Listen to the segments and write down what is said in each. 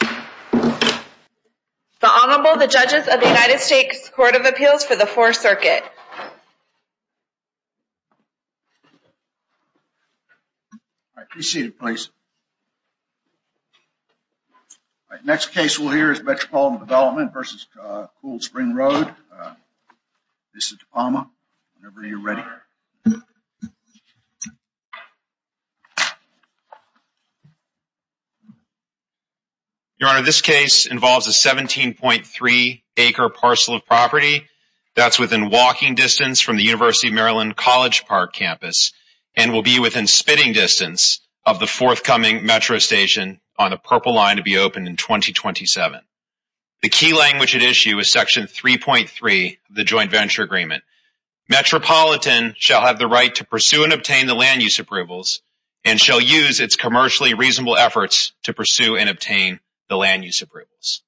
The Honorable, the Judges of the United States Court of Appeals for the Fourth Circuit. All right, please be seated, please. All right, next case we'll hear is Metropolitan Development v. Cool Spring Road. Mr. DePalma, whenever you're ready. Your Honor, this case involves a 17.3-acre parcel of property that's within walking distance from the University of Maryland College Park campus and will be within spitting distance of the forthcoming metro station on the Purple Line to be opened in 2027. The key language at issue is Section 3.3 of the Joint Venture Agreement. Metropolitan shall have the right to pursue and obtain the land use approvals and shall use its commercially reasonable efforts to pursue and obtain the land use approvals.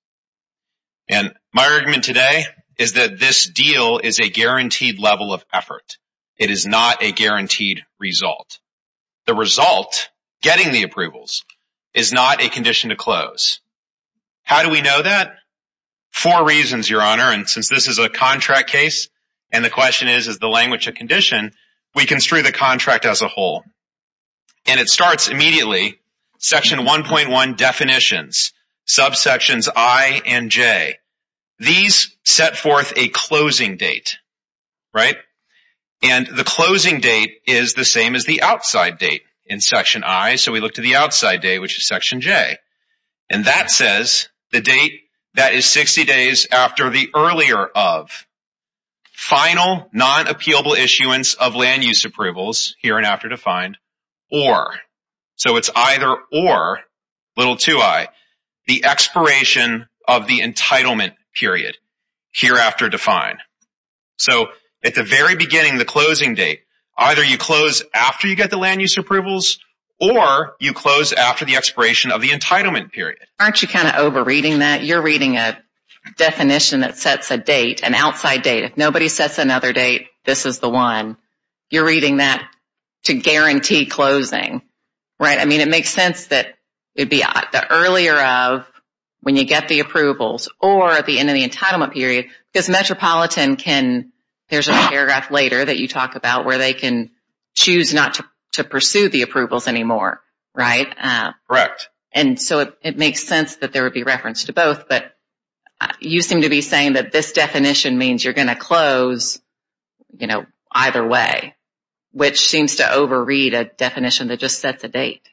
And my argument today is that this deal is a guaranteed level of effort. It is not a guaranteed result. The result, getting the approvals, is not a condition to close. How do we know that? Four reasons, Your Honor, and since this is a contract case and the question is, is the language a condition, we construe the contract as a whole. And it starts immediately, Section 1.1 definitions, subsections I and J. These set forth a closing date, right? And the closing date is the same as the outside date in Section I. So we look to the outside day, which is Section J. And that says the date that is 60 days after the earlier of final non-appealable issuance of land use approvals, here and after defined, or. So it's either or, little to I, the expiration of the entitlement period, hereafter defined. So at the very beginning, the closing date, either you close after you get the land use approvals or you close after the expiration of the entitlement period. Aren't you kind of over-reading that? You're reading a definition that sets a date, an outside date. If nobody sets another date, this is the one. You're reading that to guarantee closing, right? I mean, it makes sense that it would be the earlier of when you get the approvals or at the end of the entitlement period because Metropolitan can, there's a paragraph later that you talk about where they can choose not to pursue the approvals anymore, right? Correct. And so it makes sense that there would be reference to both. But you seem to be saying that this definition means you're going to close, you know, either way, which seems to over-read a definition that just sets a date.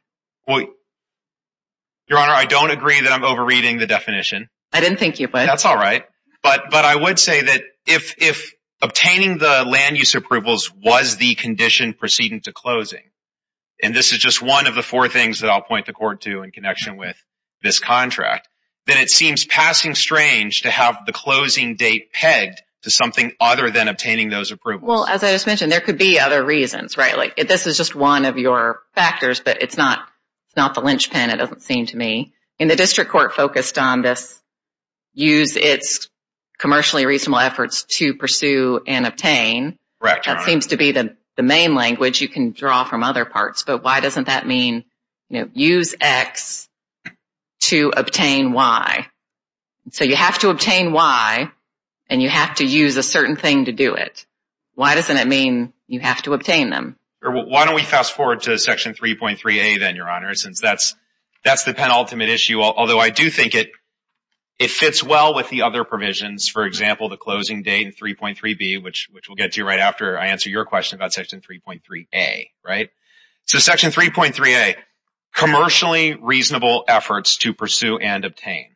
Your Honor, I don't agree that I'm over-reading the definition. I didn't think you would. That's all right. But I would say that if obtaining the land use approvals was the condition proceeding to closing, and this is just one of the four things that I'll point the Court to in connection with this contract, then it seems passing strange to have the closing date pegged to something other than obtaining those approvals. Well, as I just mentioned, there could be other reasons, right? Like this is just one of your factors, but it's not the linchpin, it doesn't seem to me. And the District Court focused on this use its commercially reasonable efforts to pursue and obtain. Correct, Your Honor. That seems to be the main language you can draw from other parts. But why doesn't that mean, you know, use X to obtain Y? So you have to obtain Y, and you have to use a certain thing to do it. Why doesn't it mean you have to obtain them? Why don't we fast forward to Section 3.3a then, Your Honor, since that's the penultimate issue. Although I do think it fits well with the other provisions, for example, the closing date in 3.3b, which we'll get to right after I answer your question about Section 3.3a, right? So Section 3.3a, commercially reasonable efforts to pursue and obtain.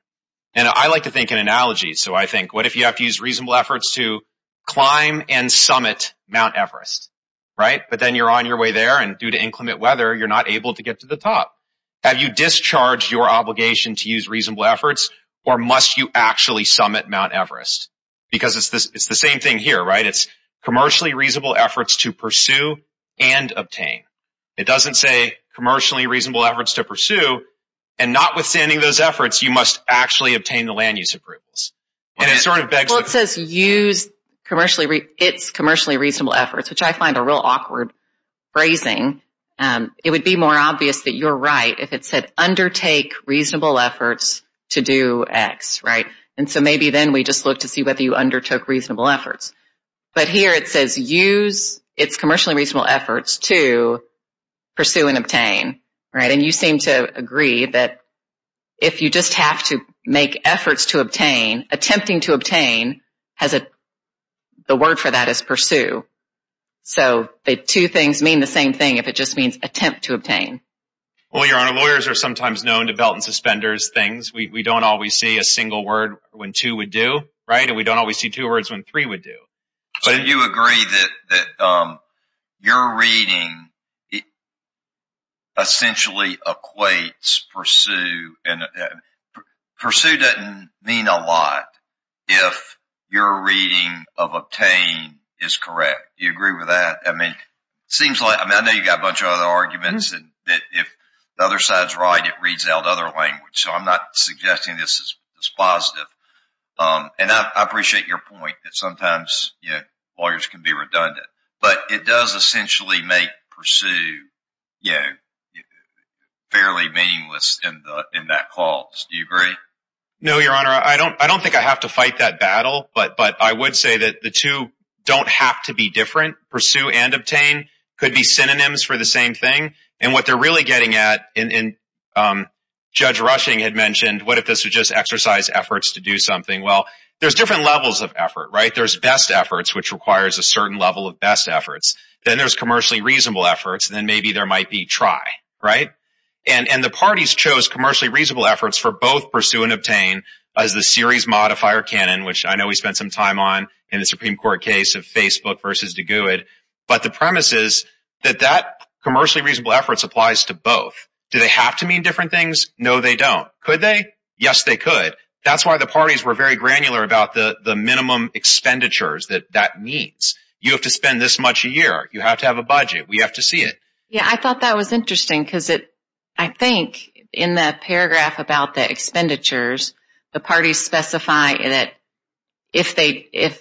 And I like to think in analogies. So I think what if you have to use reasonable efforts to climb and summit Mount Everest, right? But then you're on your way there, and due to inclement weather, you're not able to get to the top. Have you discharged your obligation to use reasonable efforts, or must you actually summit Mount Everest? Because it's the same thing here, right? It's commercially reasonable efforts to pursue and obtain. It doesn't say commercially reasonable efforts to pursue, and notwithstanding those efforts, you must actually obtain the land use approvals. Well, it says use its commercially reasonable efforts, which I find a real awkward phrasing. It would be more obvious that you're right if it said undertake reasonable efforts to do X, right? And so maybe then we just look to see whether you undertook reasonable efforts. But here it says use its commercially reasonable efforts to pursue and obtain, right? Then you seem to agree that if you just have to make efforts to obtain, attempting to obtain, the word for that is pursue. So the two things mean the same thing if it just means attempt to obtain. Well, Your Honor, lawyers are sometimes known to belt and suspenders things. We don't always see a single word when two would do, right? And we don't always see two words when three would do. So you agree that your reading essentially equates pursue. Pursue doesn't mean a lot if your reading of obtain is correct. Do you agree with that? I know you've got a bunch of other arguments that if the other side is right, it reads out other language. So I'm not suggesting this is positive. And I appreciate your point that sometimes lawyers can be redundant. But it does essentially make pursue fairly meaningless in that clause. Do you agree? No, Your Honor. I don't think I have to fight that battle. But I would say that the two don't have to be different. Pursue and obtain could be synonyms for the same thing. And what they're really getting at, and Judge Rushing had mentioned, what if this was just exercise efforts to do something? Well, there's different levels of effort, right? There's best efforts, which requires a certain level of best efforts. Then there's commercially reasonable efforts. Then maybe there might be try, right? And the parties chose commercially reasonable efforts for both pursue and obtain as the series modifier canon, which I know we spent some time on in the Supreme Court case of Facebook versus DeGueud. But the premise is that that commercially reasonable efforts applies to both. Do they have to mean different things? No, they don't. Could they? Yes, they could. That's why the parties were very granular about the minimum expenditures that that means. You have to spend this much a year. You have to have a budget. We have to see it. Yeah, I thought that was interesting because I think in the paragraph about the expenditures, the parties specify that if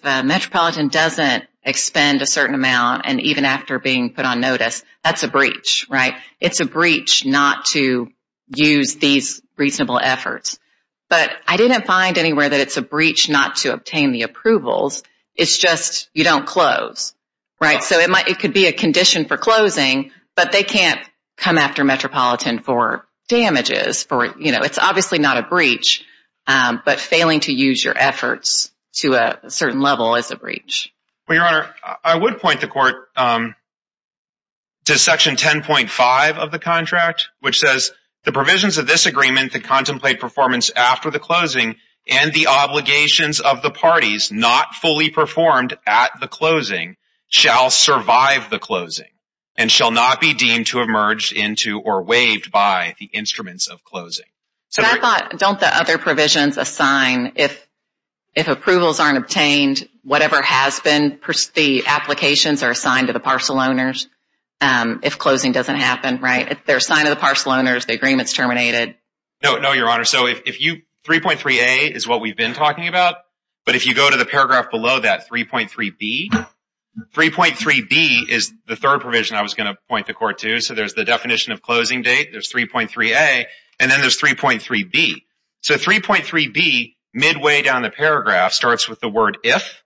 Metropolitan doesn't expend a certain amount, and even after being put on notice, that's a breach, right? It's a breach not to use these reasonable efforts. But I didn't find anywhere that it's a breach not to obtain the approvals. It's just you don't close, right? So it could be a condition for closing, but they can't come after Metropolitan for damages. It's obviously not a breach, but failing to use your efforts to a certain level is a breach. Well, Your Honor, I would point the Court to Section 10.5 of the contract, which says the provisions of this agreement that contemplate performance after the closing and the obligations of the parties not fully performed at the closing shall survive the closing and shall not be deemed to have merged into or waived by the instruments of closing. Don't the other provisions assign if approvals aren't obtained, whatever has been, the applications are assigned to the parcel owners if closing doesn't happen, right? If they're assigned to the parcel owners, the agreement's terminated. No, Your Honor. So 3.3a is what we've been talking about, but if you go to the paragraph below that, 3.3b, 3.3b is the third provision I was going to point the Court to. So there's the definition of closing date, there's 3.3a, and then there's 3.3b. So 3.3b, midway down the paragraph, starts with the word if,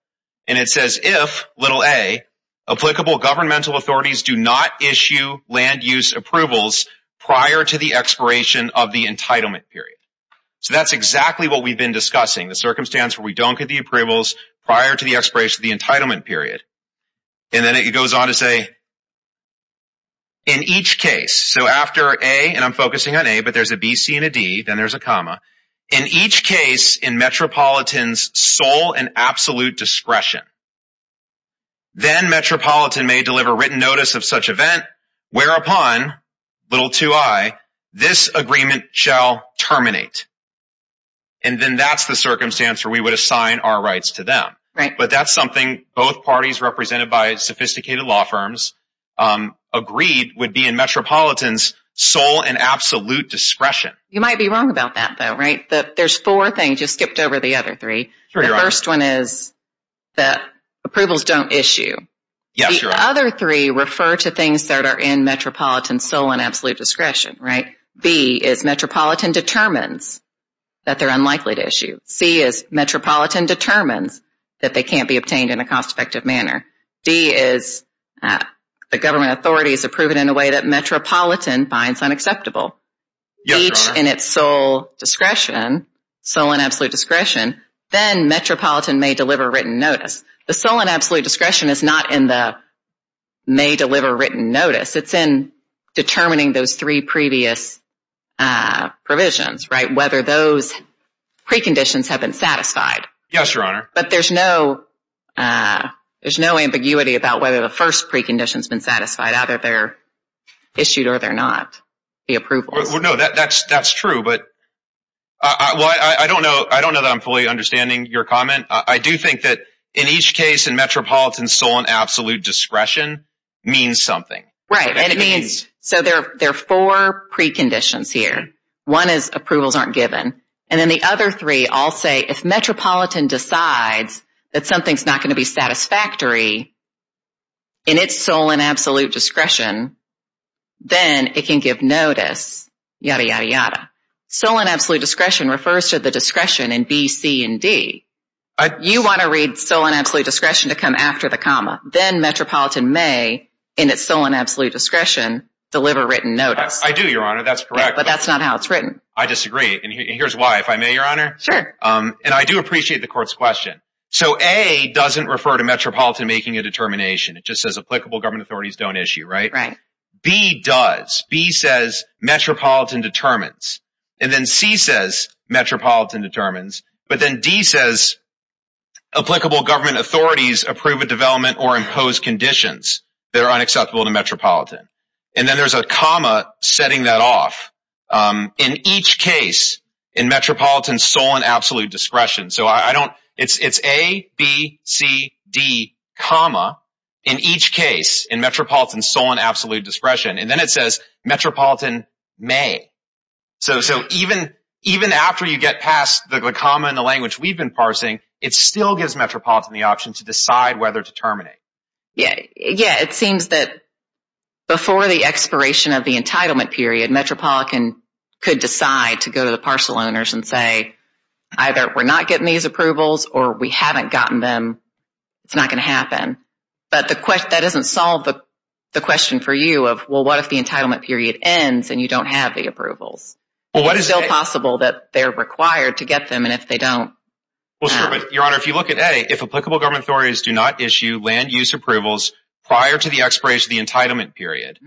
and it says if, little a, applicable governmental authorities do not issue land use approvals prior to the expiration of the entitlement period. So that's exactly what we've been discussing, the circumstance where we don't get the approvals prior to the expiration of the entitlement period. And then it goes on to say, in each case, so after a, and I'm focusing on a, but there's a b, c, and a d, then there's a comma, in each case in Metropolitan's sole and absolute discretion, then Metropolitan may deliver written notice of such event, whereupon, little ii, this agreement shall terminate. And then that's the circumstance where we would assign our rights to them. But that's something both parties represented by sophisticated law firms agreed would be in Metropolitan's sole and absolute discretion. You might be wrong about that, though, right? There's four things, you skipped over the other three. The first one is that approvals don't issue. The other three refer to things that are in Metropolitan's sole and absolute discretion, right? B is Metropolitan determines that they're unlikely to issue. C is Metropolitan determines that they can't be obtained in a cost-effective manner. D is the government authorities approve it in a way that Metropolitan finds unacceptable. Each in its sole discretion, sole and absolute discretion, then Metropolitan may deliver written notice. The sole and absolute discretion is not in the may deliver written notice. It's in determining those three previous provisions, right, whether those preconditions have been satisfied. Yes, Your Honor. But there's no ambiguity about whether the first precondition's been satisfied, either they're issued or they're not, the approvals. Well, no, that's true, but I don't know that I'm fully understanding your comment. I do think that in each case in Metropolitan's sole and absolute discretion means something. Right. So there are four preconditions here. One is approvals aren't given. And then the other three all say if Metropolitan decides that something's not going to be satisfactory in its sole and absolute discretion, sole and absolute discretion refers to the discretion in B, C, and D. You want to read sole and absolute discretion to come after the comma. Then Metropolitan may, in its sole and absolute discretion, deliver written notice. I do, Your Honor. That's correct. But that's not how it's written. I disagree. And here's why. If I may, Your Honor? Sure. And I do appreciate the court's question. So A doesn't refer to Metropolitan making a determination. It just says applicable government authorities don't issue, right? Right. B does. B says Metropolitan determines. And then C says Metropolitan determines. But then D says applicable government authorities approve a development or impose conditions that are unacceptable to Metropolitan. And then there's a comma setting that off. In each case in Metropolitan's sole and absolute discretion. So I don't – it's A, B, C, D, comma. In each case in Metropolitan's sole and absolute discretion. And then it says Metropolitan may. So even after you get past the comma in the language we've been parsing, it still gives Metropolitan the option to decide whether to terminate. Yeah. It seems that before the expiration of the entitlement period, Metropolitan could decide to go to the parcel owners and say, either we're not getting these approvals or we haven't gotten them. It's not going to happen. But that doesn't solve the question for you of, well, what if the entitlement period ends and you don't have the approvals? Well, what is – It's still possible that they're required to get them, and if they don't – Well, your Honor, if you look at A, if applicable government authorities do not issue land use approvals prior to the expiration of the entitlement period,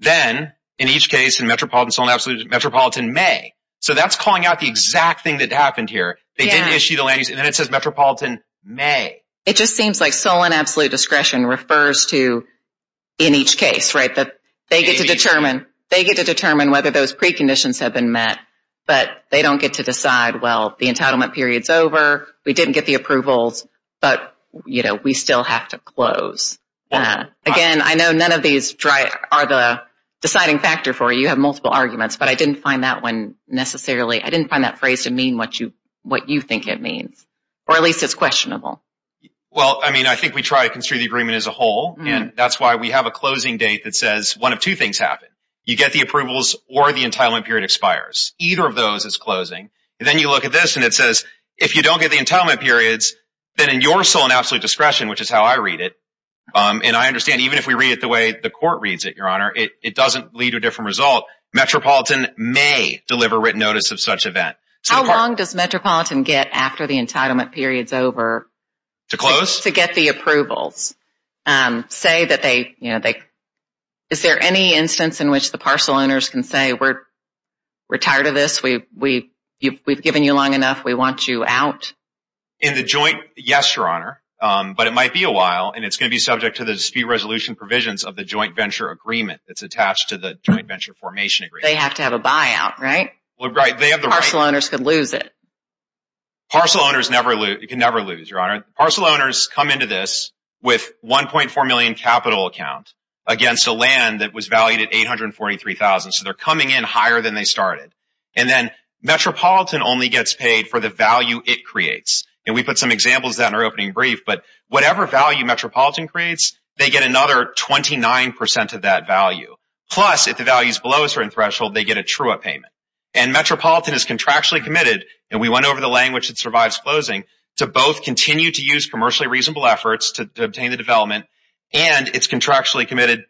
then in each case in Metropolitan's sole and absolute – Metropolitan may. So that's calling out the exact thing that happened here. Yeah. They didn't issue the land use – and then it says Metropolitan may. It just seems like sole and absolute discretion refers to in each case, right? They get to determine whether those preconditions have been met, but they don't get to decide, well, the entitlement period's over, we didn't get the approvals, but, you know, we still have to close. Again, I know none of these are the deciding factor for you. You have multiple arguments, but I didn't find that one necessarily – I didn't find that phrase to mean what you think it means. Or at least it's questionable. Well, I mean, I think we try to construe the agreement as a whole, and that's why we have a closing date that says one of two things happen. You get the approvals or the entitlement period expires. Either of those is closing, and then you look at this, and it says if you don't get the entitlement periods, then in your sole and absolute discretion, which is how I read it, and I understand even if we read it the way the court reads it, Your Honor, it doesn't lead to a different result. Metropolitan may deliver written notice of such event. How long does Metropolitan get after the entitlement period's over? To close? To get the approvals. Say that they, you know, they – is there any instance in which the parcel owners can say we're tired of this, we've given you long enough, we want you out? In the joint, yes, Your Honor. But it might be a while, and it's going to be subject to the dispute resolution provisions of the joint venture agreement that's attached to the joint venture formation agreement. They have to have a buyout, right? Parcel owners could lose it. Parcel owners can never lose, Your Honor. Parcel owners come into this with $1.4 million capital account against a land that was valued at $843,000. So they're coming in higher than they started. And then Metropolitan only gets paid for the value it creates. And we put some examples of that in our opening brief, but whatever value Metropolitan creates, they get another 29% of that value. Plus, if the value is below a certain threshold, they get a true up payment. And Metropolitan is contractually committed, and we went over the language that survives closing, to both continue to use commercially reasonable efforts to obtain the development, and it's contractually committed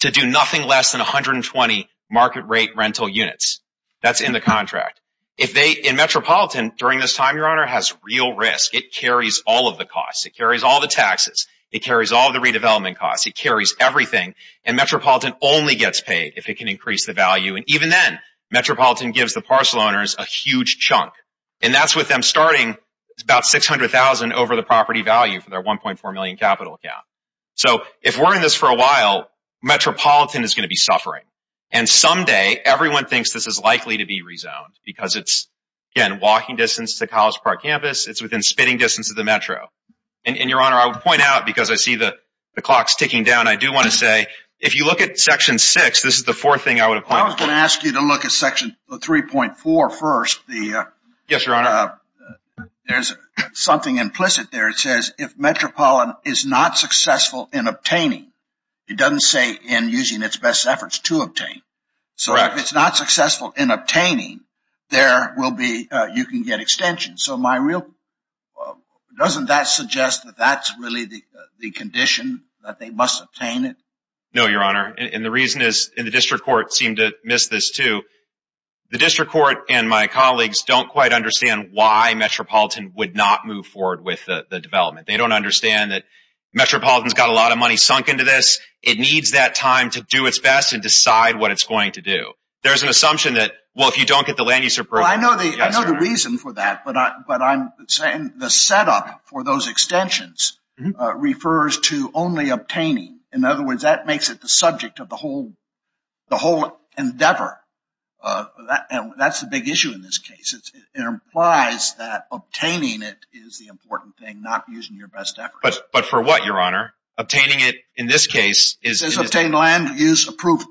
to do nothing less than 120 market rate rental units. That's in the contract. If they – and Metropolitan, during this time, Your Honor, has real risk. It carries all of the costs. It carries all the taxes. It carries all the redevelopment costs. It carries everything. And Metropolitan only gets paid if it can increase the value. And even then, Metropolitan gives the parcel owners a huge chunk. And that's with them starting about $600,000 over the property value for their $1.4 million capital account. So if we're in this for a while, Metropolitan is going to be suffering. And someday, everyone thinks this is likely to be rezoned because it's, again, walking distance to College Park campus. It's within spitting distance of the Metro. And, Your Honor, I would point out, because I see the clock's ticking down, I do want to say if you look at Section 6, this is the fourth thing I would have pointed out. I was going to ask you to look at Section 3.4 first. Yes, Your Honor. There's something implicit there. It says if Metropolitan is not successful in obtaining, it doesn't say in using its best efforts to obtain. Correct. So if it's not successful in obtaining, there will be – you can get extension. So my real – doesn't that suggest that that's really the condition, that they must obtain it? No, Your Honor. And the reason is – and the district court seemed to miss this, too. The district court and my colleagues don't quite understand why Metropolitan would not move forward with the development. They don't understand that Metropolitan's got a lot of money sunk into this. It needs that time to do its best and decide what it's going to do. There's an assumption that, well, if you don't get the land use approval – Well, I know the reason for that, but I'm saying the setup for those extensions refers to only obtaining. In other words, that makes it the subject of the whole endeavor. That's the big issue in this case. It implies that obtaining it is the important thing, not using your best efforts. But for what, Your Honor? Obtaining it in this case is – It says obtain land use approval.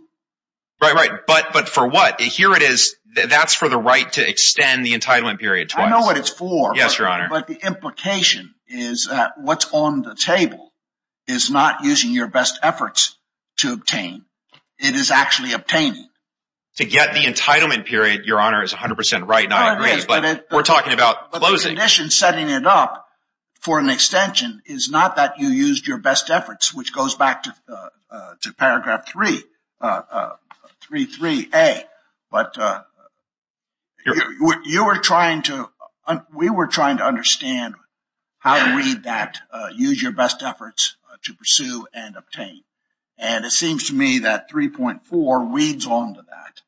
Right, right. But for what? Here it is. That's for the right to extend the entitlement period twice. I know what it's for. Yes, Your Honor. But the implication is that what's on the table is not using your best efforts to obtain. It is actually obtaining. To get the entitlement period, Your Honor, is 100 percent right, not agree. But we're talking about closing. But the condition setting it up for an extension is not that you used your best efforts, which goes back to paragraph 3, 3.3a. But you were trying to – we were trying to understand how to read that, use your best efforts to pursue and obtain. And it seems to me that 3.4 reads on to that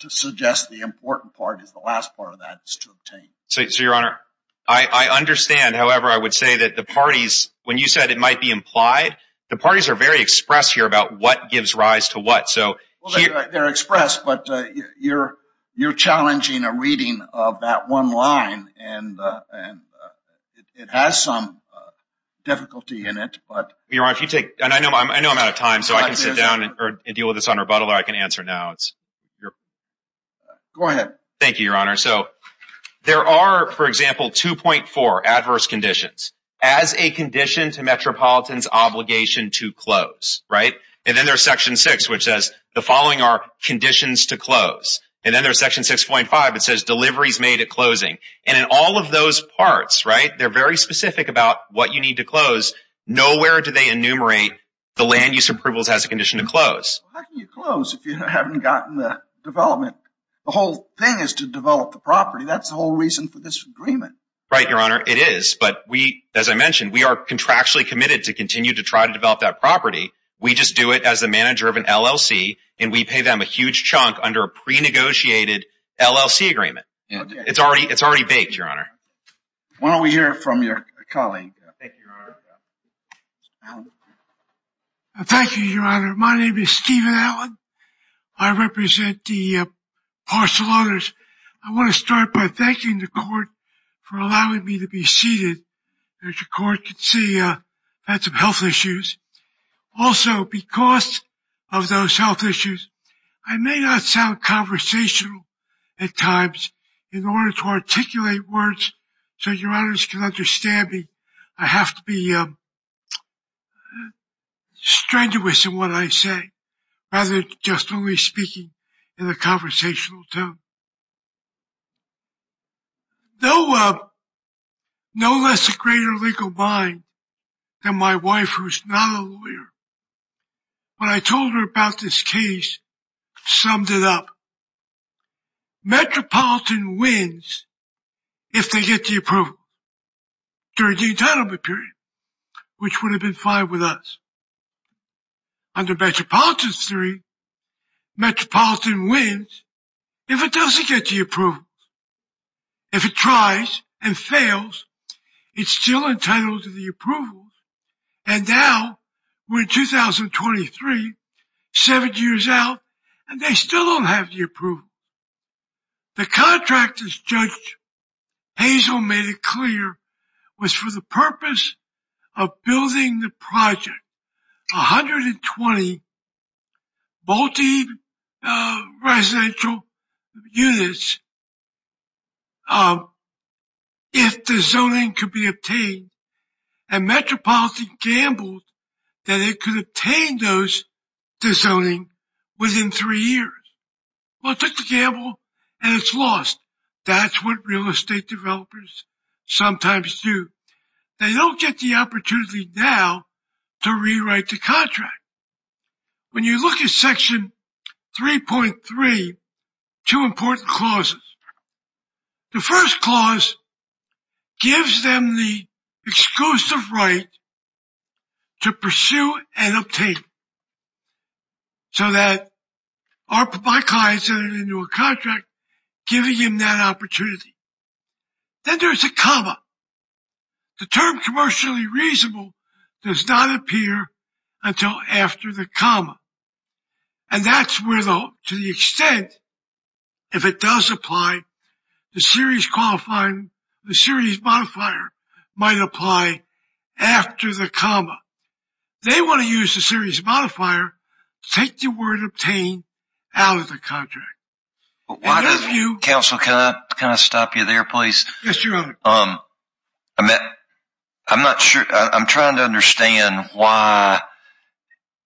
to suggest the important part is the last part of that is to obtain. So, Your Honor, I understand. However, I would say that the parties, when you said it might be implied, the parties are very expressed here about what gives rise to what. They're expressed, but you're challenging a reading of that one line, and it has some difficulty in it. Your Honor, if you take – and I know I'm out of time, so I can sit down and deal with this on rebuttal, or I can answer now. Go ahead. Thank you, Your Honor. So there are, for example, 2.4, adverse conditions, as a condition to Metropolitan's obligation to close, right? And then there's section 6, which says the following are conditions to close. And then there's section 6.5 that says deliveries made at closing. And in all of those parts, right, they're very specific about what you need to close. Nowhere do they enumerate the land use approvals as a condition to close. How can you close if you haven't gotten the development? The whole thing is to develop the property. That's the whole reason for this agreement. Right, Your Honor. It is. But as I mentioned, we are contractually committed to continue to try to develop that property. We just do it as a manager of an LLC, and we pay them a huge chunk under a pre-negotiated LLC agreement. It's already baked, Your Honor. Why don't we hear from your colleague? Thank you, Your Honor. Thank you, Your Honor. My name is Stephen Allen. I represent the parcel owners. I want to start by thanking the court for allowing me to be seated. As your court can see, I had some health issues. Also, because of those health issues, I may not sound conversational at times. In order to articulate words so Your Honors can understand me, I have to be strenuous in what I say. Rather than just only speaking in a conversational tone. No less a greater legal mind than my wife, who is not a lawyer. When I told her about this case, I summed it up. Metropolitan wins if they get the approval during the entitlement period, which would have been fine with us. Under Metropolitan's theory, Metropolitan wins if it doesn't get the approval. If it tries and fails, it's still entitled to the approval. And now we're in 2023, seven years out, and they still don't have the approval. The contract, as Judge Hazel made it clear, was for the purpose of building the project, 120 multi-residential units if the zoning could be obtained. And Metropolitan gambled that it could obtain those, the zoning, within three years. Well, it took the gamble, and it's lost. That's what real estate developers sometimes do. They don't get the opportunity now to rewrite the contract. When you look at Section 3.3, two important clauses. The first clause gives them the exclusive right to pursue and obtain so that our clients enter into a contract, giving them that opportunity. Then there's a comma. The term commercially reasonable does not appear until after the comma. And that's to the extent, if it does apply, the series modifier might apply after the comma. They want to use the series modifier to take the word obtained out of the contract. Counsel, can I stop you there, please? Yes, Your Honor. I'm not sure. I'm trying to understand why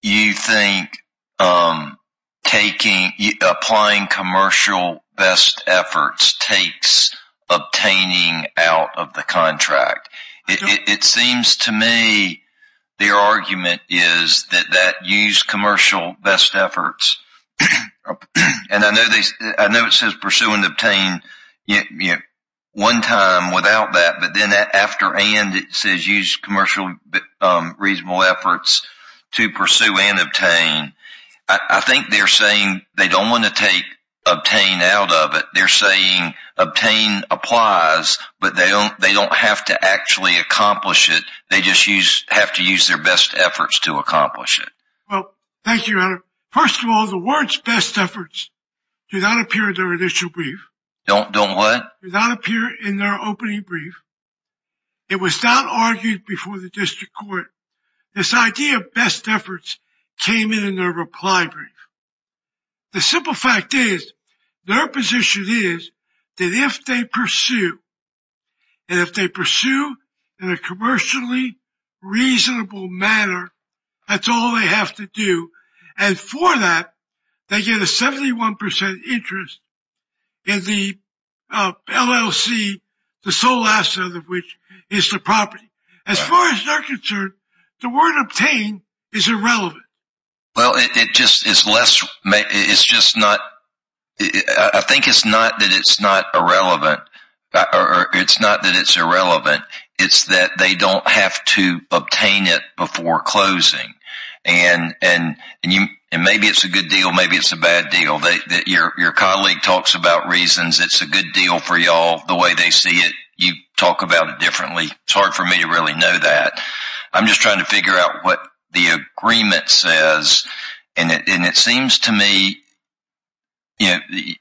you think applying commercial best efforts takes obtaining out of the contract. It seems to me their argument is that use commercial best efforts. And I know it says pursue and obtain one time without that. But then after and it says use commercial reasonable efforts to pursue and obtain. I think they're saying they don't want to take obtain out of it. They're saying obtain applies, but they don't have to actually accomplish it. They just have to use their best efforts to accomplish it. Well, thank you, Your Honor. First of all, the words best efforts do not appear in their initial brief. Don't what? Do not appear in their opening brief. It was not argued before the district court. This idea of best efforts came in their reply brief. The simple fact is their position is that if they pursue, and if they pursue in a commercially reasonable manner, that's all they have to do. And for that, they get a 71% interest in the LLC, the sole asset of which is the property. As far as they're concerned, the word obtain is irrelevant. Well, it just is less. It's just not. I think it's not that it's not irrelevant. It's not that it's irrelevant. It's that they don't have to obtain it before closing. And maybe it's a good deal. Maybe it's a bad deal. Your colleague talks about reasons. It's a good deal for you all. The way they see it, you talk about it differently. It's hard for me to really know that. I'm just trying to figure out what the agreement says. And it seems to me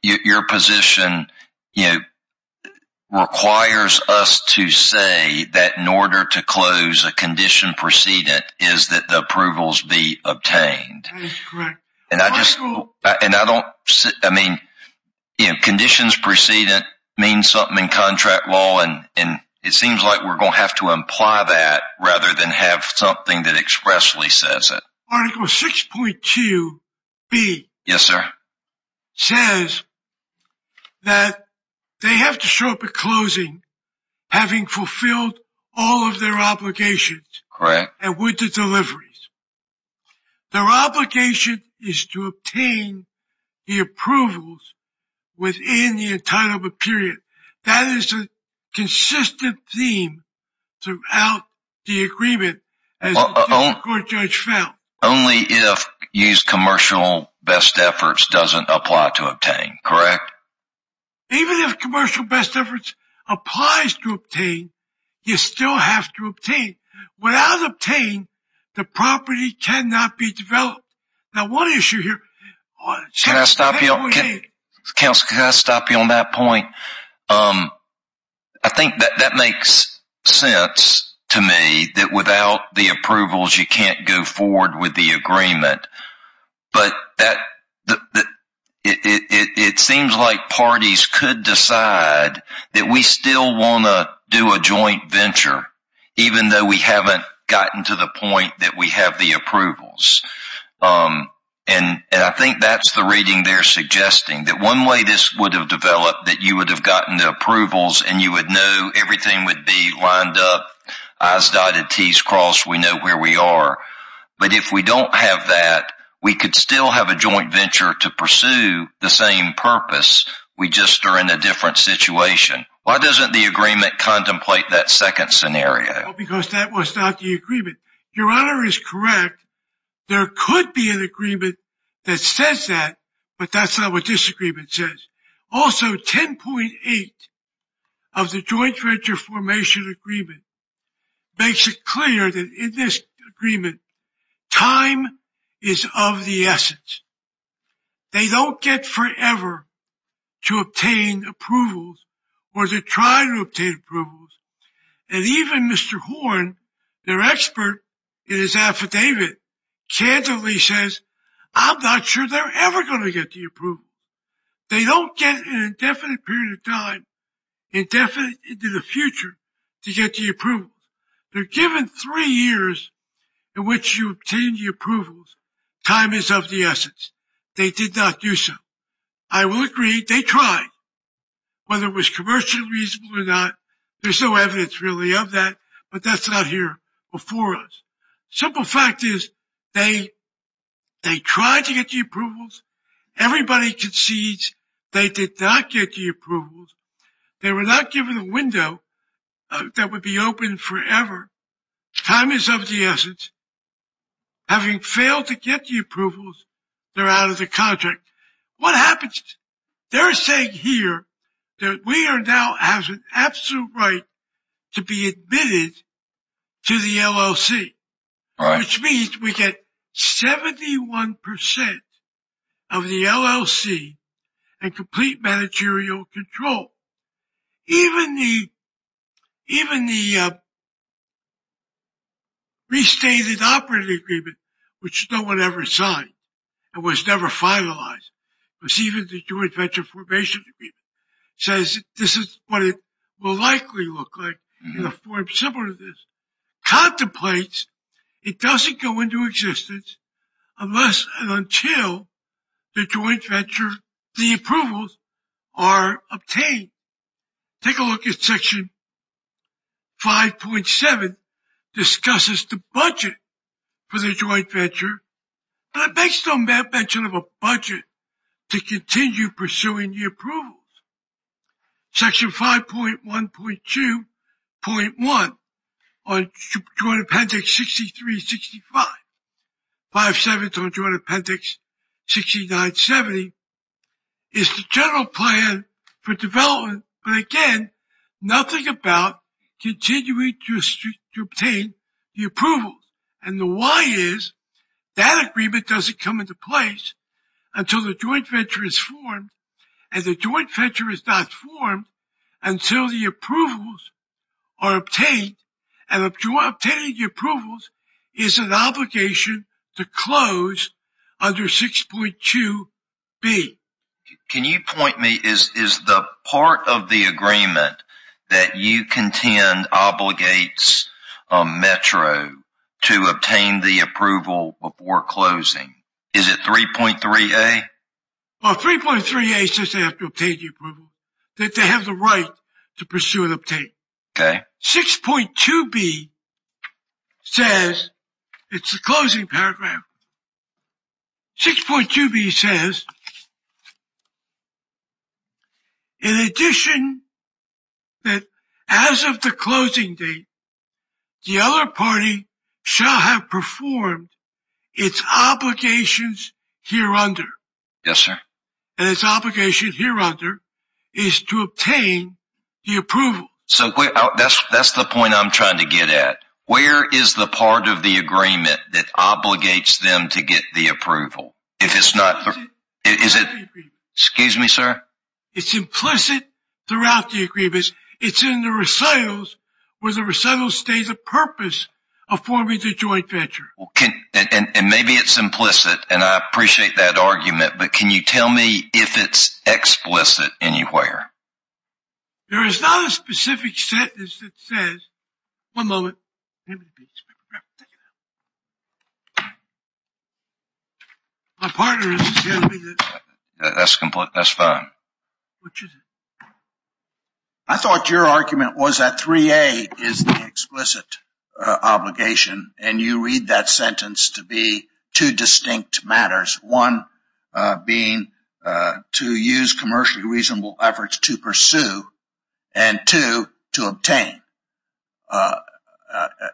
your position requires us to say that in order to close a condition precedent is that the approvals be obtained. That's correct. And I don't, I mean, conditions precedent means something in contract law. And it seems like we're going to have to imply that rather than have something that expressly says it. Article 6.2B says that they have to show up at closing having fulfilled all of their obligations. Correct. And with the deliveries. Their obligation is to obtain the approvals within the entitlement period. That is a consistent theme throughout the agreement as the court judge found. Only if used commercial best efforts doesn't apply to obtain, correct? Even if commercial best efforts applies to obtain, you still have to obtain. Without obtaining, the property cannot be developed. Now, one issue here. Can I stop you on that point? I think that makes sense to me that without the approvals, you can't go forward with the agreement. But it seems like parties could decide that we still want to do a joint venture, even though we haven't gotten to the point that we have the approvals. And I think that's the reading they're suggesting. That one way this would have developed, that you would have gotten the approvals and you would know everything would be lined up, I's dotted, T's crossed, we know where we are. But if we don't have that, we could still have a joint venture to pursue the same purpose. We just are in a different situation. Why doesn't the agreement contemplate that second scenario? Because that was not the agreement. Your Honor is correct. There could be an agreement that says that, but that's not what this agreement says. Also, 10.8 of the joint venture formation agreement makes it clear that in this agreement, time is of the essence. They don't get forever to obtain approvals or to try to obtain approvals. And even Mr. Horn, their expert in his affidavit, candidly says, I'm not sure they're ever going to get the approval. They don't get an indefinite period of time, indefinite into the future to get the approval. They're given three years in which you obtain the approvals. Time is of the essence. They did not do so. I will agree, they tried. Whether it was commercially reasonable or not, there's no evidence really of that, but that's not here before us. Simple fact is, they tried to get the approvals. Everybody concedes they did not get the approvals. They were not given a window that would be open forever. Time is of the essence. Having failed to get the approvals, they're out of the contract. What happens? They're saying here that we now have an absolute right to be admitted to the LLC. Which means we get 71% of the LLC and complete managerial control. Even the restated operating agreement, which no one ever signed and was never finalized, was even the joint venture formation agreement, says this is what it will likely look like in a form similar to this. Contemplates it doesn't go into existence unless and until the joint venture, the approvals, are obtained. Take a look at Section 5.7, discusses the budget for the joint venture, but it makes no mention of a budget to continue pursuing the approvals. Section 5.1.2.1 on Joint Appendix 63-65, 5-7 on Joint Appendix 69-70, is the general plan for development, but again, nothing about continuing to obtain the approvals. And the why is that agreement doesn't come into place until the joint venture is formed and the joint venture is not formed until the approvals are obtained. And obtaining the approvals is an obligation to close under 6.2b. Can you point me, is the part of the agreement that you contend obligates Metro to obtain the approval before closing? Is it 3.3a? Well, 3.3a says they have to obtain the approval, that they have the right to pursue and obtain. 6.2b says, it's the closing paragraph, 6.2b says, in addition, that as of the closing date, the other party shall have performed its obligations here under. Yes, sir. And its obligation here under is to obtain the approval. So that's the point I'm trying to get at. Where is the part of the agreement that obligates them to get the approval? It's implicit throughout the agreement. Excuse me, sir? It's implicit throughout the agreement. It's in the recitals where the recitals state the purpose of forming the joint venture. And maybe it's implicit, and I appreciate that argument, but can you tell me if it's explicit anywhere? There is not a specific sentence that says... One moment. My partner is... That's fine. I thought your argument was that 3.8 is the explicit obligation, and you read that sentence to be two distinct matters. One being to use commercially reasonable efforts to pursue, and two, to obtain.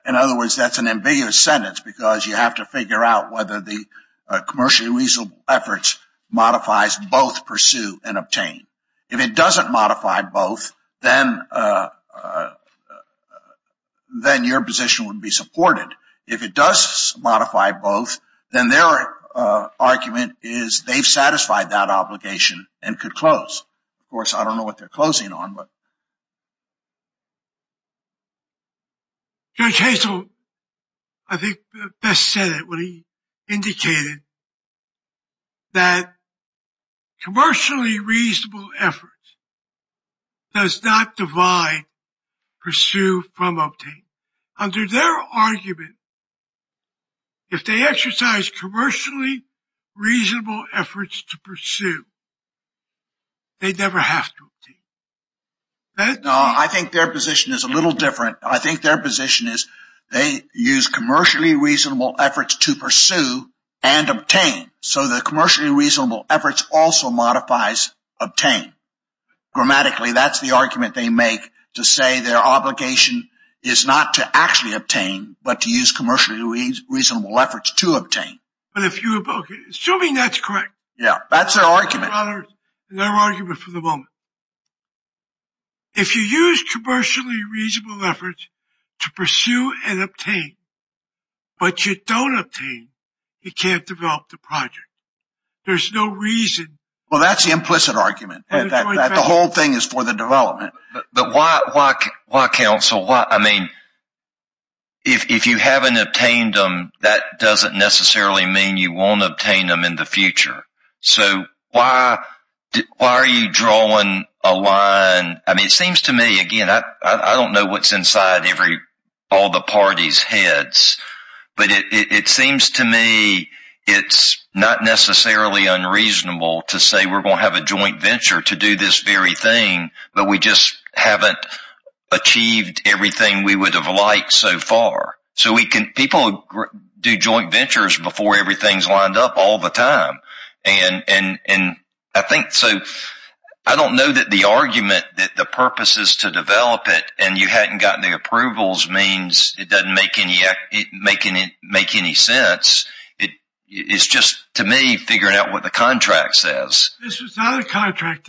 In other words, that's an ambiguous sentence because you have to figure out whether the commercially reasonable efforts modifies both pursue and obtain. If it doesn't modify both, then your position would be supported. If it does modify both, then their argument is they've satisfied that obligation and could close. Of course, I don't know what they're closing on, but... Judge Hazel, I think, best said it when he indicated that commercially reasonable efforts does not divide pursue from obtain. Under their argument, if they exercise commercially reasonable efforts to pursue, they never have to obtain. No, I think their position is a little different. I think their position is they use commercially reasonable efforts to pursue and obtain. So the commercially reasonable efforts also modifies obtain. Grammatically, that's the argument they make to say their obligation is not to actually obtain, but to use commercially reasonable efforts to obtain. Assuming that's correct. Yeah, that's their argument. That's their argument for the moment. If you use commercially reasonable efforts to pursue and obtain, but you don't obtain, you can't develop the project. There's no reason... Well, that's the implicit argument. The whole thing is for the development. But why, counsel? I mean, if you haven't obtained them, that doesn't necessarily mean you won't obtain them in the future. So why are you drawing a line? I mean, it seems to me, again, I don't know what's inside all the parties' heads, but it seems to me it's not necessarily unreasonable to say we're going to have a joint venture to do this very thing, but we just haven't achieved everything we would have liked so far. People do joint ventures before everything's lined up all the time. And I think, so I don't know that the argument that the purpose is to develop it and you hadn't gotten the approvals means it doesn't make any sense. It's just, to me, figuring out what the contract says. This is not a contract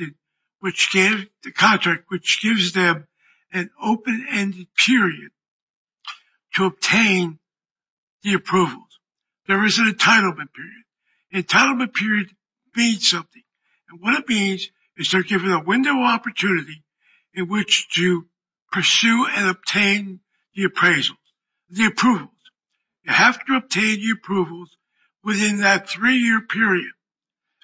which gives them an open-ended period to obtain the approvals. There is an entitlement period. Entitlement period means something, and what it means is they're given a window of opportunity in which to pursue and obtain the appraisals, the approvals. You have to obtain the approvals within that three-year period.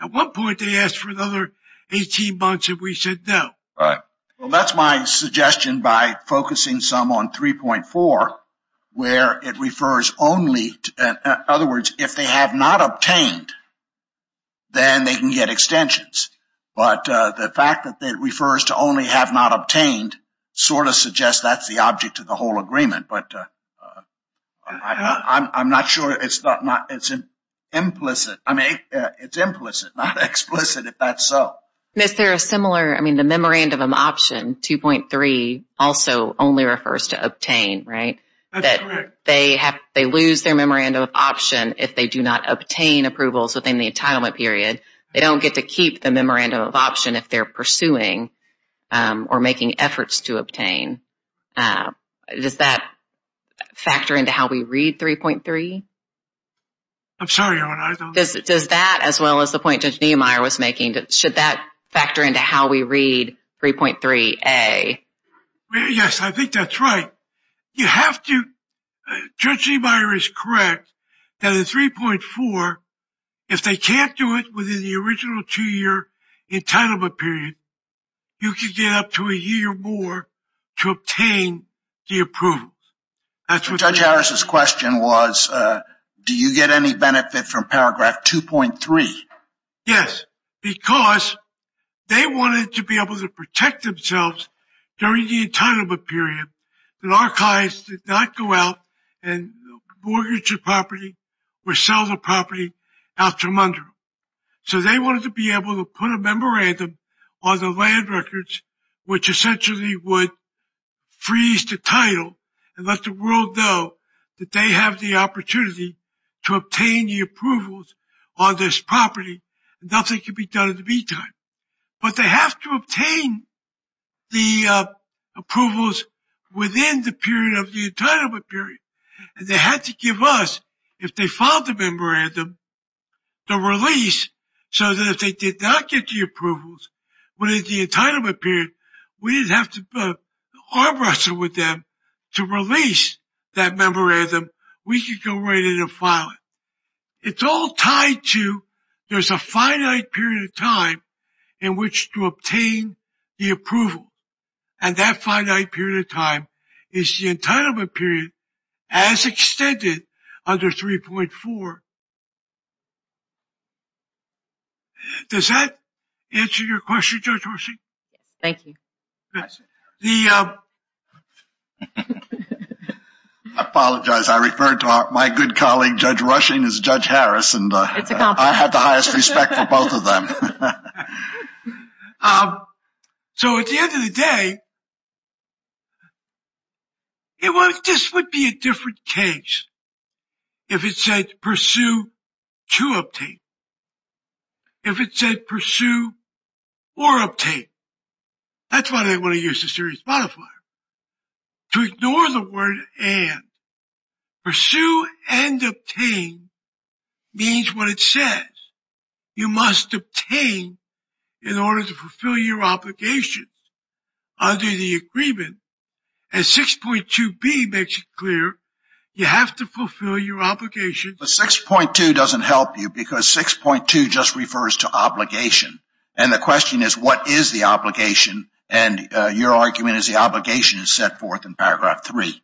At one point, they asked for another 18 months, and we said no. Right. Well, that's my suggestion by focusing some on 3.4, where it refers only, in other words, if they have not obtained, then they can get extensions. But the fact that it refers to only have not obtained sort of suggests that's the object of the whole agreement. But I'm not sure it's implicit. I mean, it's implicit, not explicit, if that's so. Is there a similar, I mean, the memorandum option, 2.3, also only refers to obtain, right? That's correct. They lose their memorandum of option if they do not obtain approvals within the entitlement period. They don't get to keep the memorandum of option if they're pursuing or making efforts to obtain. Does that factor into how we read 3.3? I'm sorry. Does that, as well as the point Judge Niemeyer was making, should that factor into how we read 3.3a? Yes, I think that's right. You have to, Judge Niemeyer is correct, that in 3.4, if they can't do it within the original two-year entitlement period, you can get up to a year more to obtain the approvals. Judge Harris' question was, do you get any benefit from paragraph 2.3? Yes, because they wanted to be able to protect themselves during the entitlement period. The archives did not go out and mortgage a property or sell the property after a month. So they wanted to be able to put a memorandum on the land records, which essentially would freeze the title and let the world know that they have the opportunity to obtain the approvals on this property. Nothing could be done in the meantime. But they have to obtain the approvals within the period of the entitlement period, and they had to give us, if they filed the memorandum, the release so that if they did not get the approvals, within the entitlement period, we didn't have to arm wrestle with them to release that memorandum. We could go right in and file it. It's all tied to there's a finite period of time in which to obtain the approval, and that finite period of time is the entitlement period as extended under 3.4. Does that answer your question, Judge Rushing? Thank you. I apologize. I referred to my good colleague, Judge Rushing, as Judge Harris, and I have the highest respect for both of them. So at the end of the day, this would be a different case if it said pursue to obtain. If it said pursue or obtain, that's why they want to use the series modifier. To ignore the word and, pursue and obtain means what it says. You must obtain in order to fulfill your obligations under the agreement, and 6.2b makes it clear you have to fulfill your obligations. But 6.2 doesn't help you because 6.2 just refers to obligation, and the question is what is the obligation, and your argument is the obligation is set forth in paragraph 3.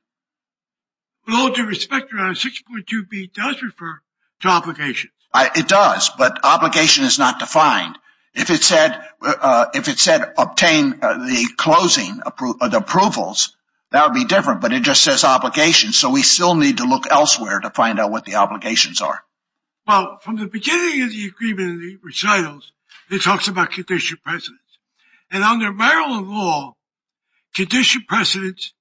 With all due respect, 6.2b does refer to obligation. It does, but obligation is not defined. If it said obtain the approvals, that would be different, but it just says obligation, so we still need to look elsewhere to find out what the obligations are. Well, from the beginning of the agreement in the recitals, it talks about condition precedents, and under Maryland law, condition precedents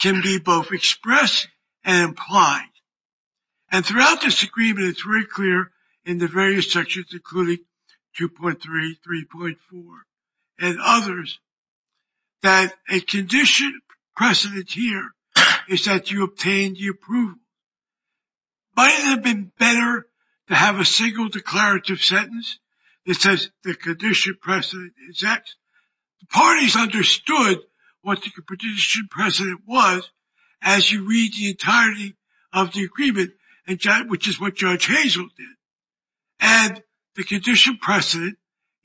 can be both expressed and implied, and throughout this agreement it's very clear in the various sections, including 2.3, 3.4, and others, that a condition precedent here is that you obtain the approval. Might it have been better to have a single declarative sentence that says the condition precedent is X? The parties understood what the condition precedent was as you read the entirety of the agreement, which is what Judge Hazel did, and the condition precedent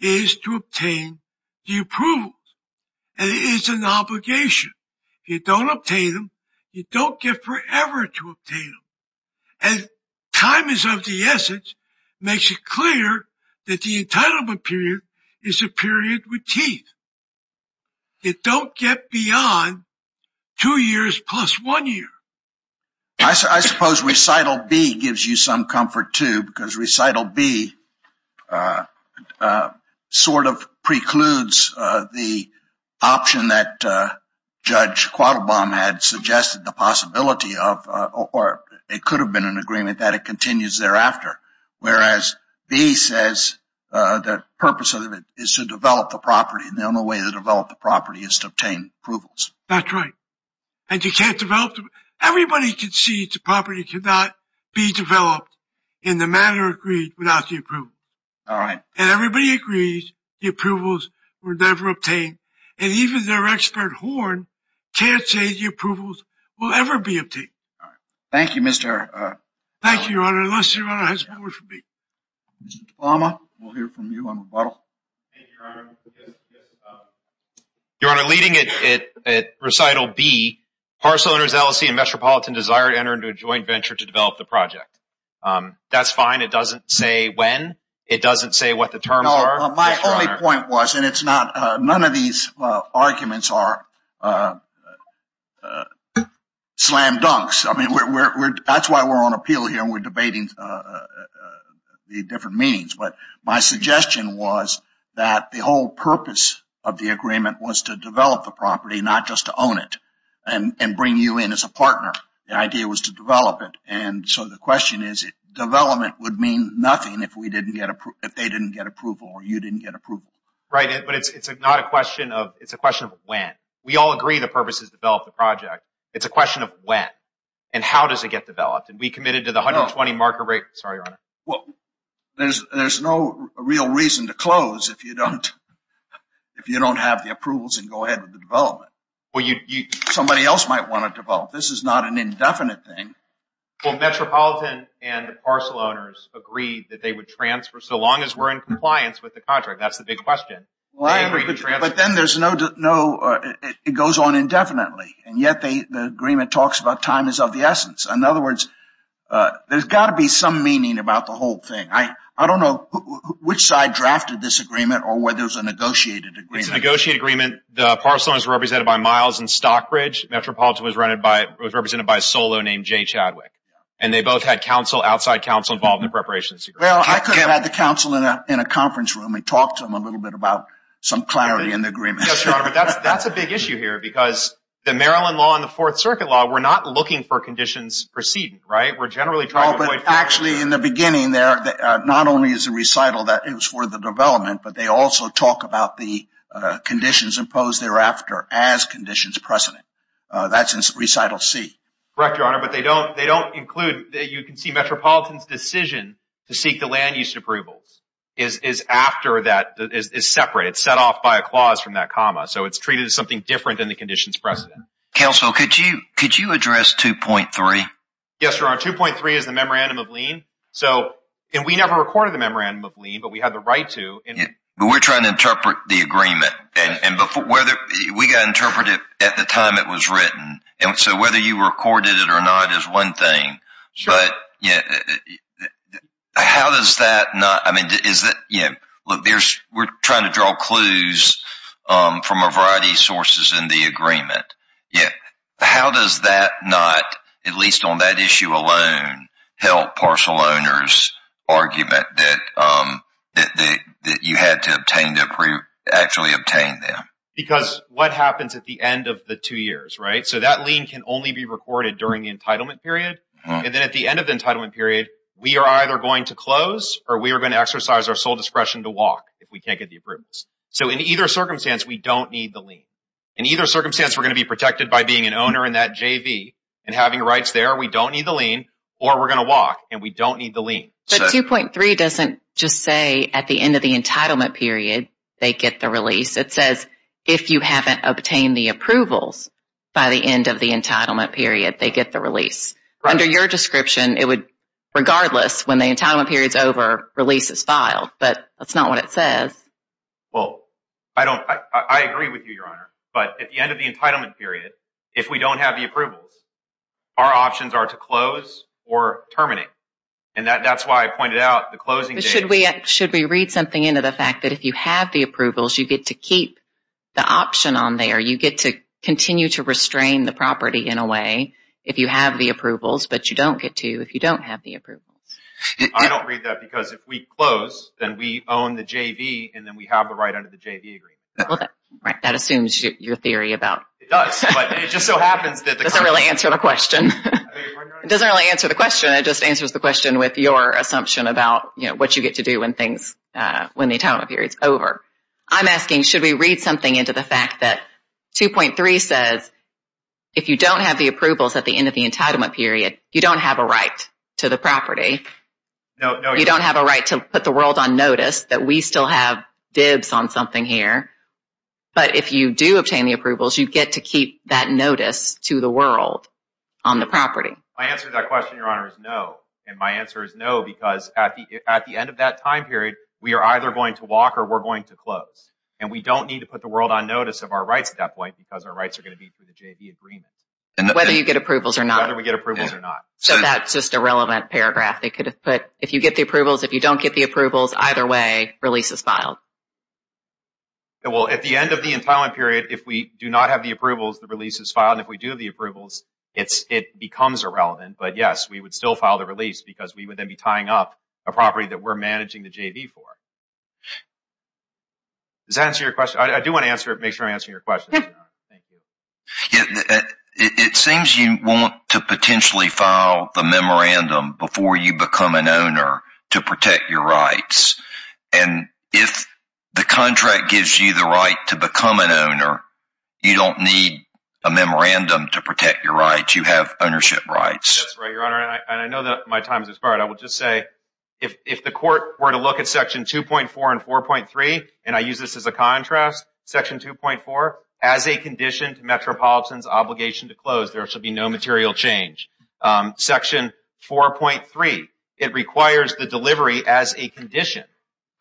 is to obtain the approvals, and it is an obligation. If you don't obtain them, you don't get forever to obtain them, and time is of the essence, makes it clear that the entitlement period is a period with teeth. You don't get beyond two years plus one year. I suppose recital B gives you some comfort, too, because recital B sort of precludes the option that Judge Quattlebaum had suggested the possibility of, or it could have been an agreement that it continues thereafter, whereas B says the purpose of it is to develop the property, and the only way to develop the property is to obtain approvals. That's right, and you can't develop the property. Everybody concedes the property cannot be developed in the manner agreed without the approval. All right. And everybody agrees the approvals were never obtained, and even their expert horn can't say the approvals will ever be obtained. Thank you, Mr. Quattlebaum. Thank you, Your Honor, unless Your Honor has more for me. Mr. Quattlebaum, we'll hear from you on rebuttal. Thank you, Your Honor. Your Honor, leading at recital B, parcel owners LLC and Metropolitan desire to enter into a joint venture to develop the project. That's fine. It doesn't say when. It doesn't say what the terms are. No, my only point was, and none of these arguments are slam dunks. I mean, that's why we're on appeal here and we're debating the different meanings, but my suggestion was that the whole purpose of the agreement was to develop the property, not just to own it and bring you in as a partner. The idea was to develop it, and so the question is, development would mean nothing if they didn't get approval or you didn't get approval. Right, but it's a question of when. We all agree the purpose is to develop the project. It's a question of when and how does it get developed, and we committed to the 120 marker rate. Sorry, Your Honor. Well, there's no real reason to close if you don't have the approvals and go ahead with the development. Somebody else might want to develop. This is not an indefinite thing. Well, Metropolitan and the parcel owners agreed that they would transfer, so long as we're in compliance with the contract. That's the big question. But then it goes on indefinitely, and yet the agreement talks about time is of the essence. In other words, there's got to be some meaning about the whole thing. I don't know which side drafted this agreement or whether it was a negotiated agreement. It was a negotiated agreement. The parcel owners were represented by Miles and Stockbridge. Metropolitan was represented by a solo named Jay Chadwick, and they both had outside counsel involved in the preparations. Well, I could have had the counsel in a conference room and talked to them a little bit about some clarity in the agreement. Yes, Your Honor, but that's a big issue here because the Maryland law and the Fourth Circuit law, we're not looking for conditions preceding, right? We're generally trying to avoid. Actually, in the beginning there, not only is the recital that it was for the development, but they also talk about the conditions imposed thereafter as conditions precedent. That's in recital C. Correct, Your Honor, but they don't include. You can see Metropolitan's decision to seek the land use approvals is after that. It's separate. It's set off by a clause from that comma, so it's treated as something different than the conditions precedent. Counsel, could you address 2.3? Yes, Your Honor. 2.3 is the memorandum of lien, and we never recorded the memorandum of lien, but we had the right to. We're trying to interpret the agreement. We got interpretive at the time it was written, and so whether you recorded it or not is one thing. We're trying to draw clues from a variety of sources in the agreement. How does that not, at least on that issue alone, help parcel owners' argument that you had to actually obtain them? Because what happens at the end of the two years, right? So that lien can only be recorded during the entitlement period, and then at the end of the entitlement period, we are either going to close or we are going to exercise our sole discretion to walk if we can't get the approvals. So in either circumstance, we don't need the lien. In either circumstance, we're going to be protected by being an owner in that JV and having rights there. We don't need the lien, or we're going to walk, and we don't need the lien. But 2.3 doesn't just say at the end of the entitlement period they get the release. It says if you haven't obtained the approvals by the end of the entitlement period, they get the release. Under your description, it would, regardless, when the entitlement period is over, release is filed. But that's not what it says. Well, I agree with you, Your Honor. But at the end of the entitlement period, if we don't have the approvals, our options are to close or terminate. And that's why I pointed out the closing date. But should we read something into the fact that if you have the approvals, you get to keep the option on there. You get to continue to restrain the property in a way if you have the approvals, but you don't get to if you don't have the approvals. I don't read that because if we close, then we own the JV, and then we have the right under the JV agreement. Well, that assumes your theory about... It does, but it just so happens that... It doesn't really answer the question. It doesn't really answer the question. It just answers the question with your assumption about what you get to do when the entitlement period is over. I'm asking, should we read something into the fact that 2.3 says if you don't have the approvals at the end of the entitlement period, you don't have a right to the property. You don't have a right to put the world on notice that we still have dibs on something here. But if you do obtain the approvals, you get to keep that notice to the world on the property. My answer to that question, Your Honor, is no. And my answer is no because at the end of that time period, we are either going to walk or we're going to close. And we don't need to put the world on notice of our rights at that point because our rights are going to be through the JV agreement. Whether you get approvals or not. Whether we get approvals or not. So that's just a relevant paragraph they could have put. If you get the approvals, if you don't get the approvals, either way, release is filed. Well, at the end of the entitlement period, if we do not have the approvals, the release is filed. And if we do have the approvals, it becomes irrelevant. But yes, we would still file the release because we would then be tying up a property that we're managing the JV for. Does that answer your question? I do want to make sure I'm answering your question. It seems you want to potentially file the memorandum before you become an owner to protect your rights. And if the contract gives you the right to become an owner, you don't need a memorandum to protect your rights. You have ownership rights. That's right, Your Honor. And I know that my time has expired. I will just say if the court were to look at Section 2.4 and 4.3, and I use this as a contrast, Section 2.4, as a condition to Metropolitan's obligation to close, there should be no material change. Section 4.3, it requires the delivery as a condition.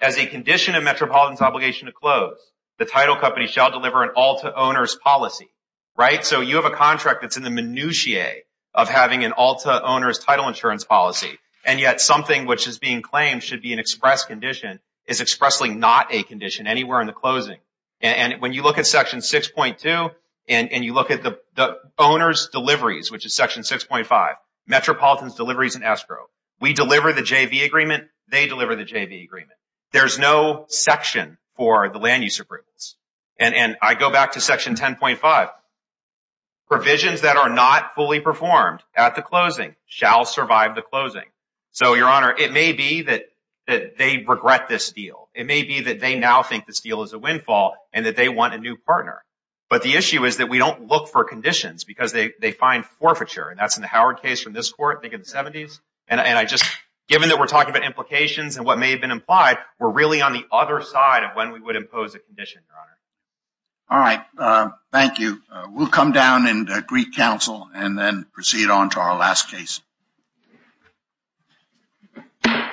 As a condition of Metropolitan's obligation to close, the title company shall deliver an all-to-owners policy, right? So you have a contract that's in the minutiae of having an all-to-owners title insurance policy, and yet something which is being claimed should be an express condition is expressly not a condition anywhere in the closing. And when you look at Section 6.2 and you look at the owner's deliveries, which is Section 6.5, Metropolitan's deliveries and escrow, we deliver the JV agreement, they deliver the JV agreement. There's no section for the land use approvals. And I go back to Section 10.5. Provisions that are not fully performed at the closing shall survive the closing. So, Your Honor, it may be that they regret this deal. It may be that they now think this deal is a windfall and that they want a new partner. But the issue is that we don't look for conditions because they find forfeiture, and that's in the Howard case from this court, I think in the 70s. And I just, given that we're talking about implications and what may have been implied, we're really on the other side of when we would impose a condition, Your Honor. All right. Thank you. We'll come down and greet counsel and then proceed on to our last case. Thank you, Your Honor.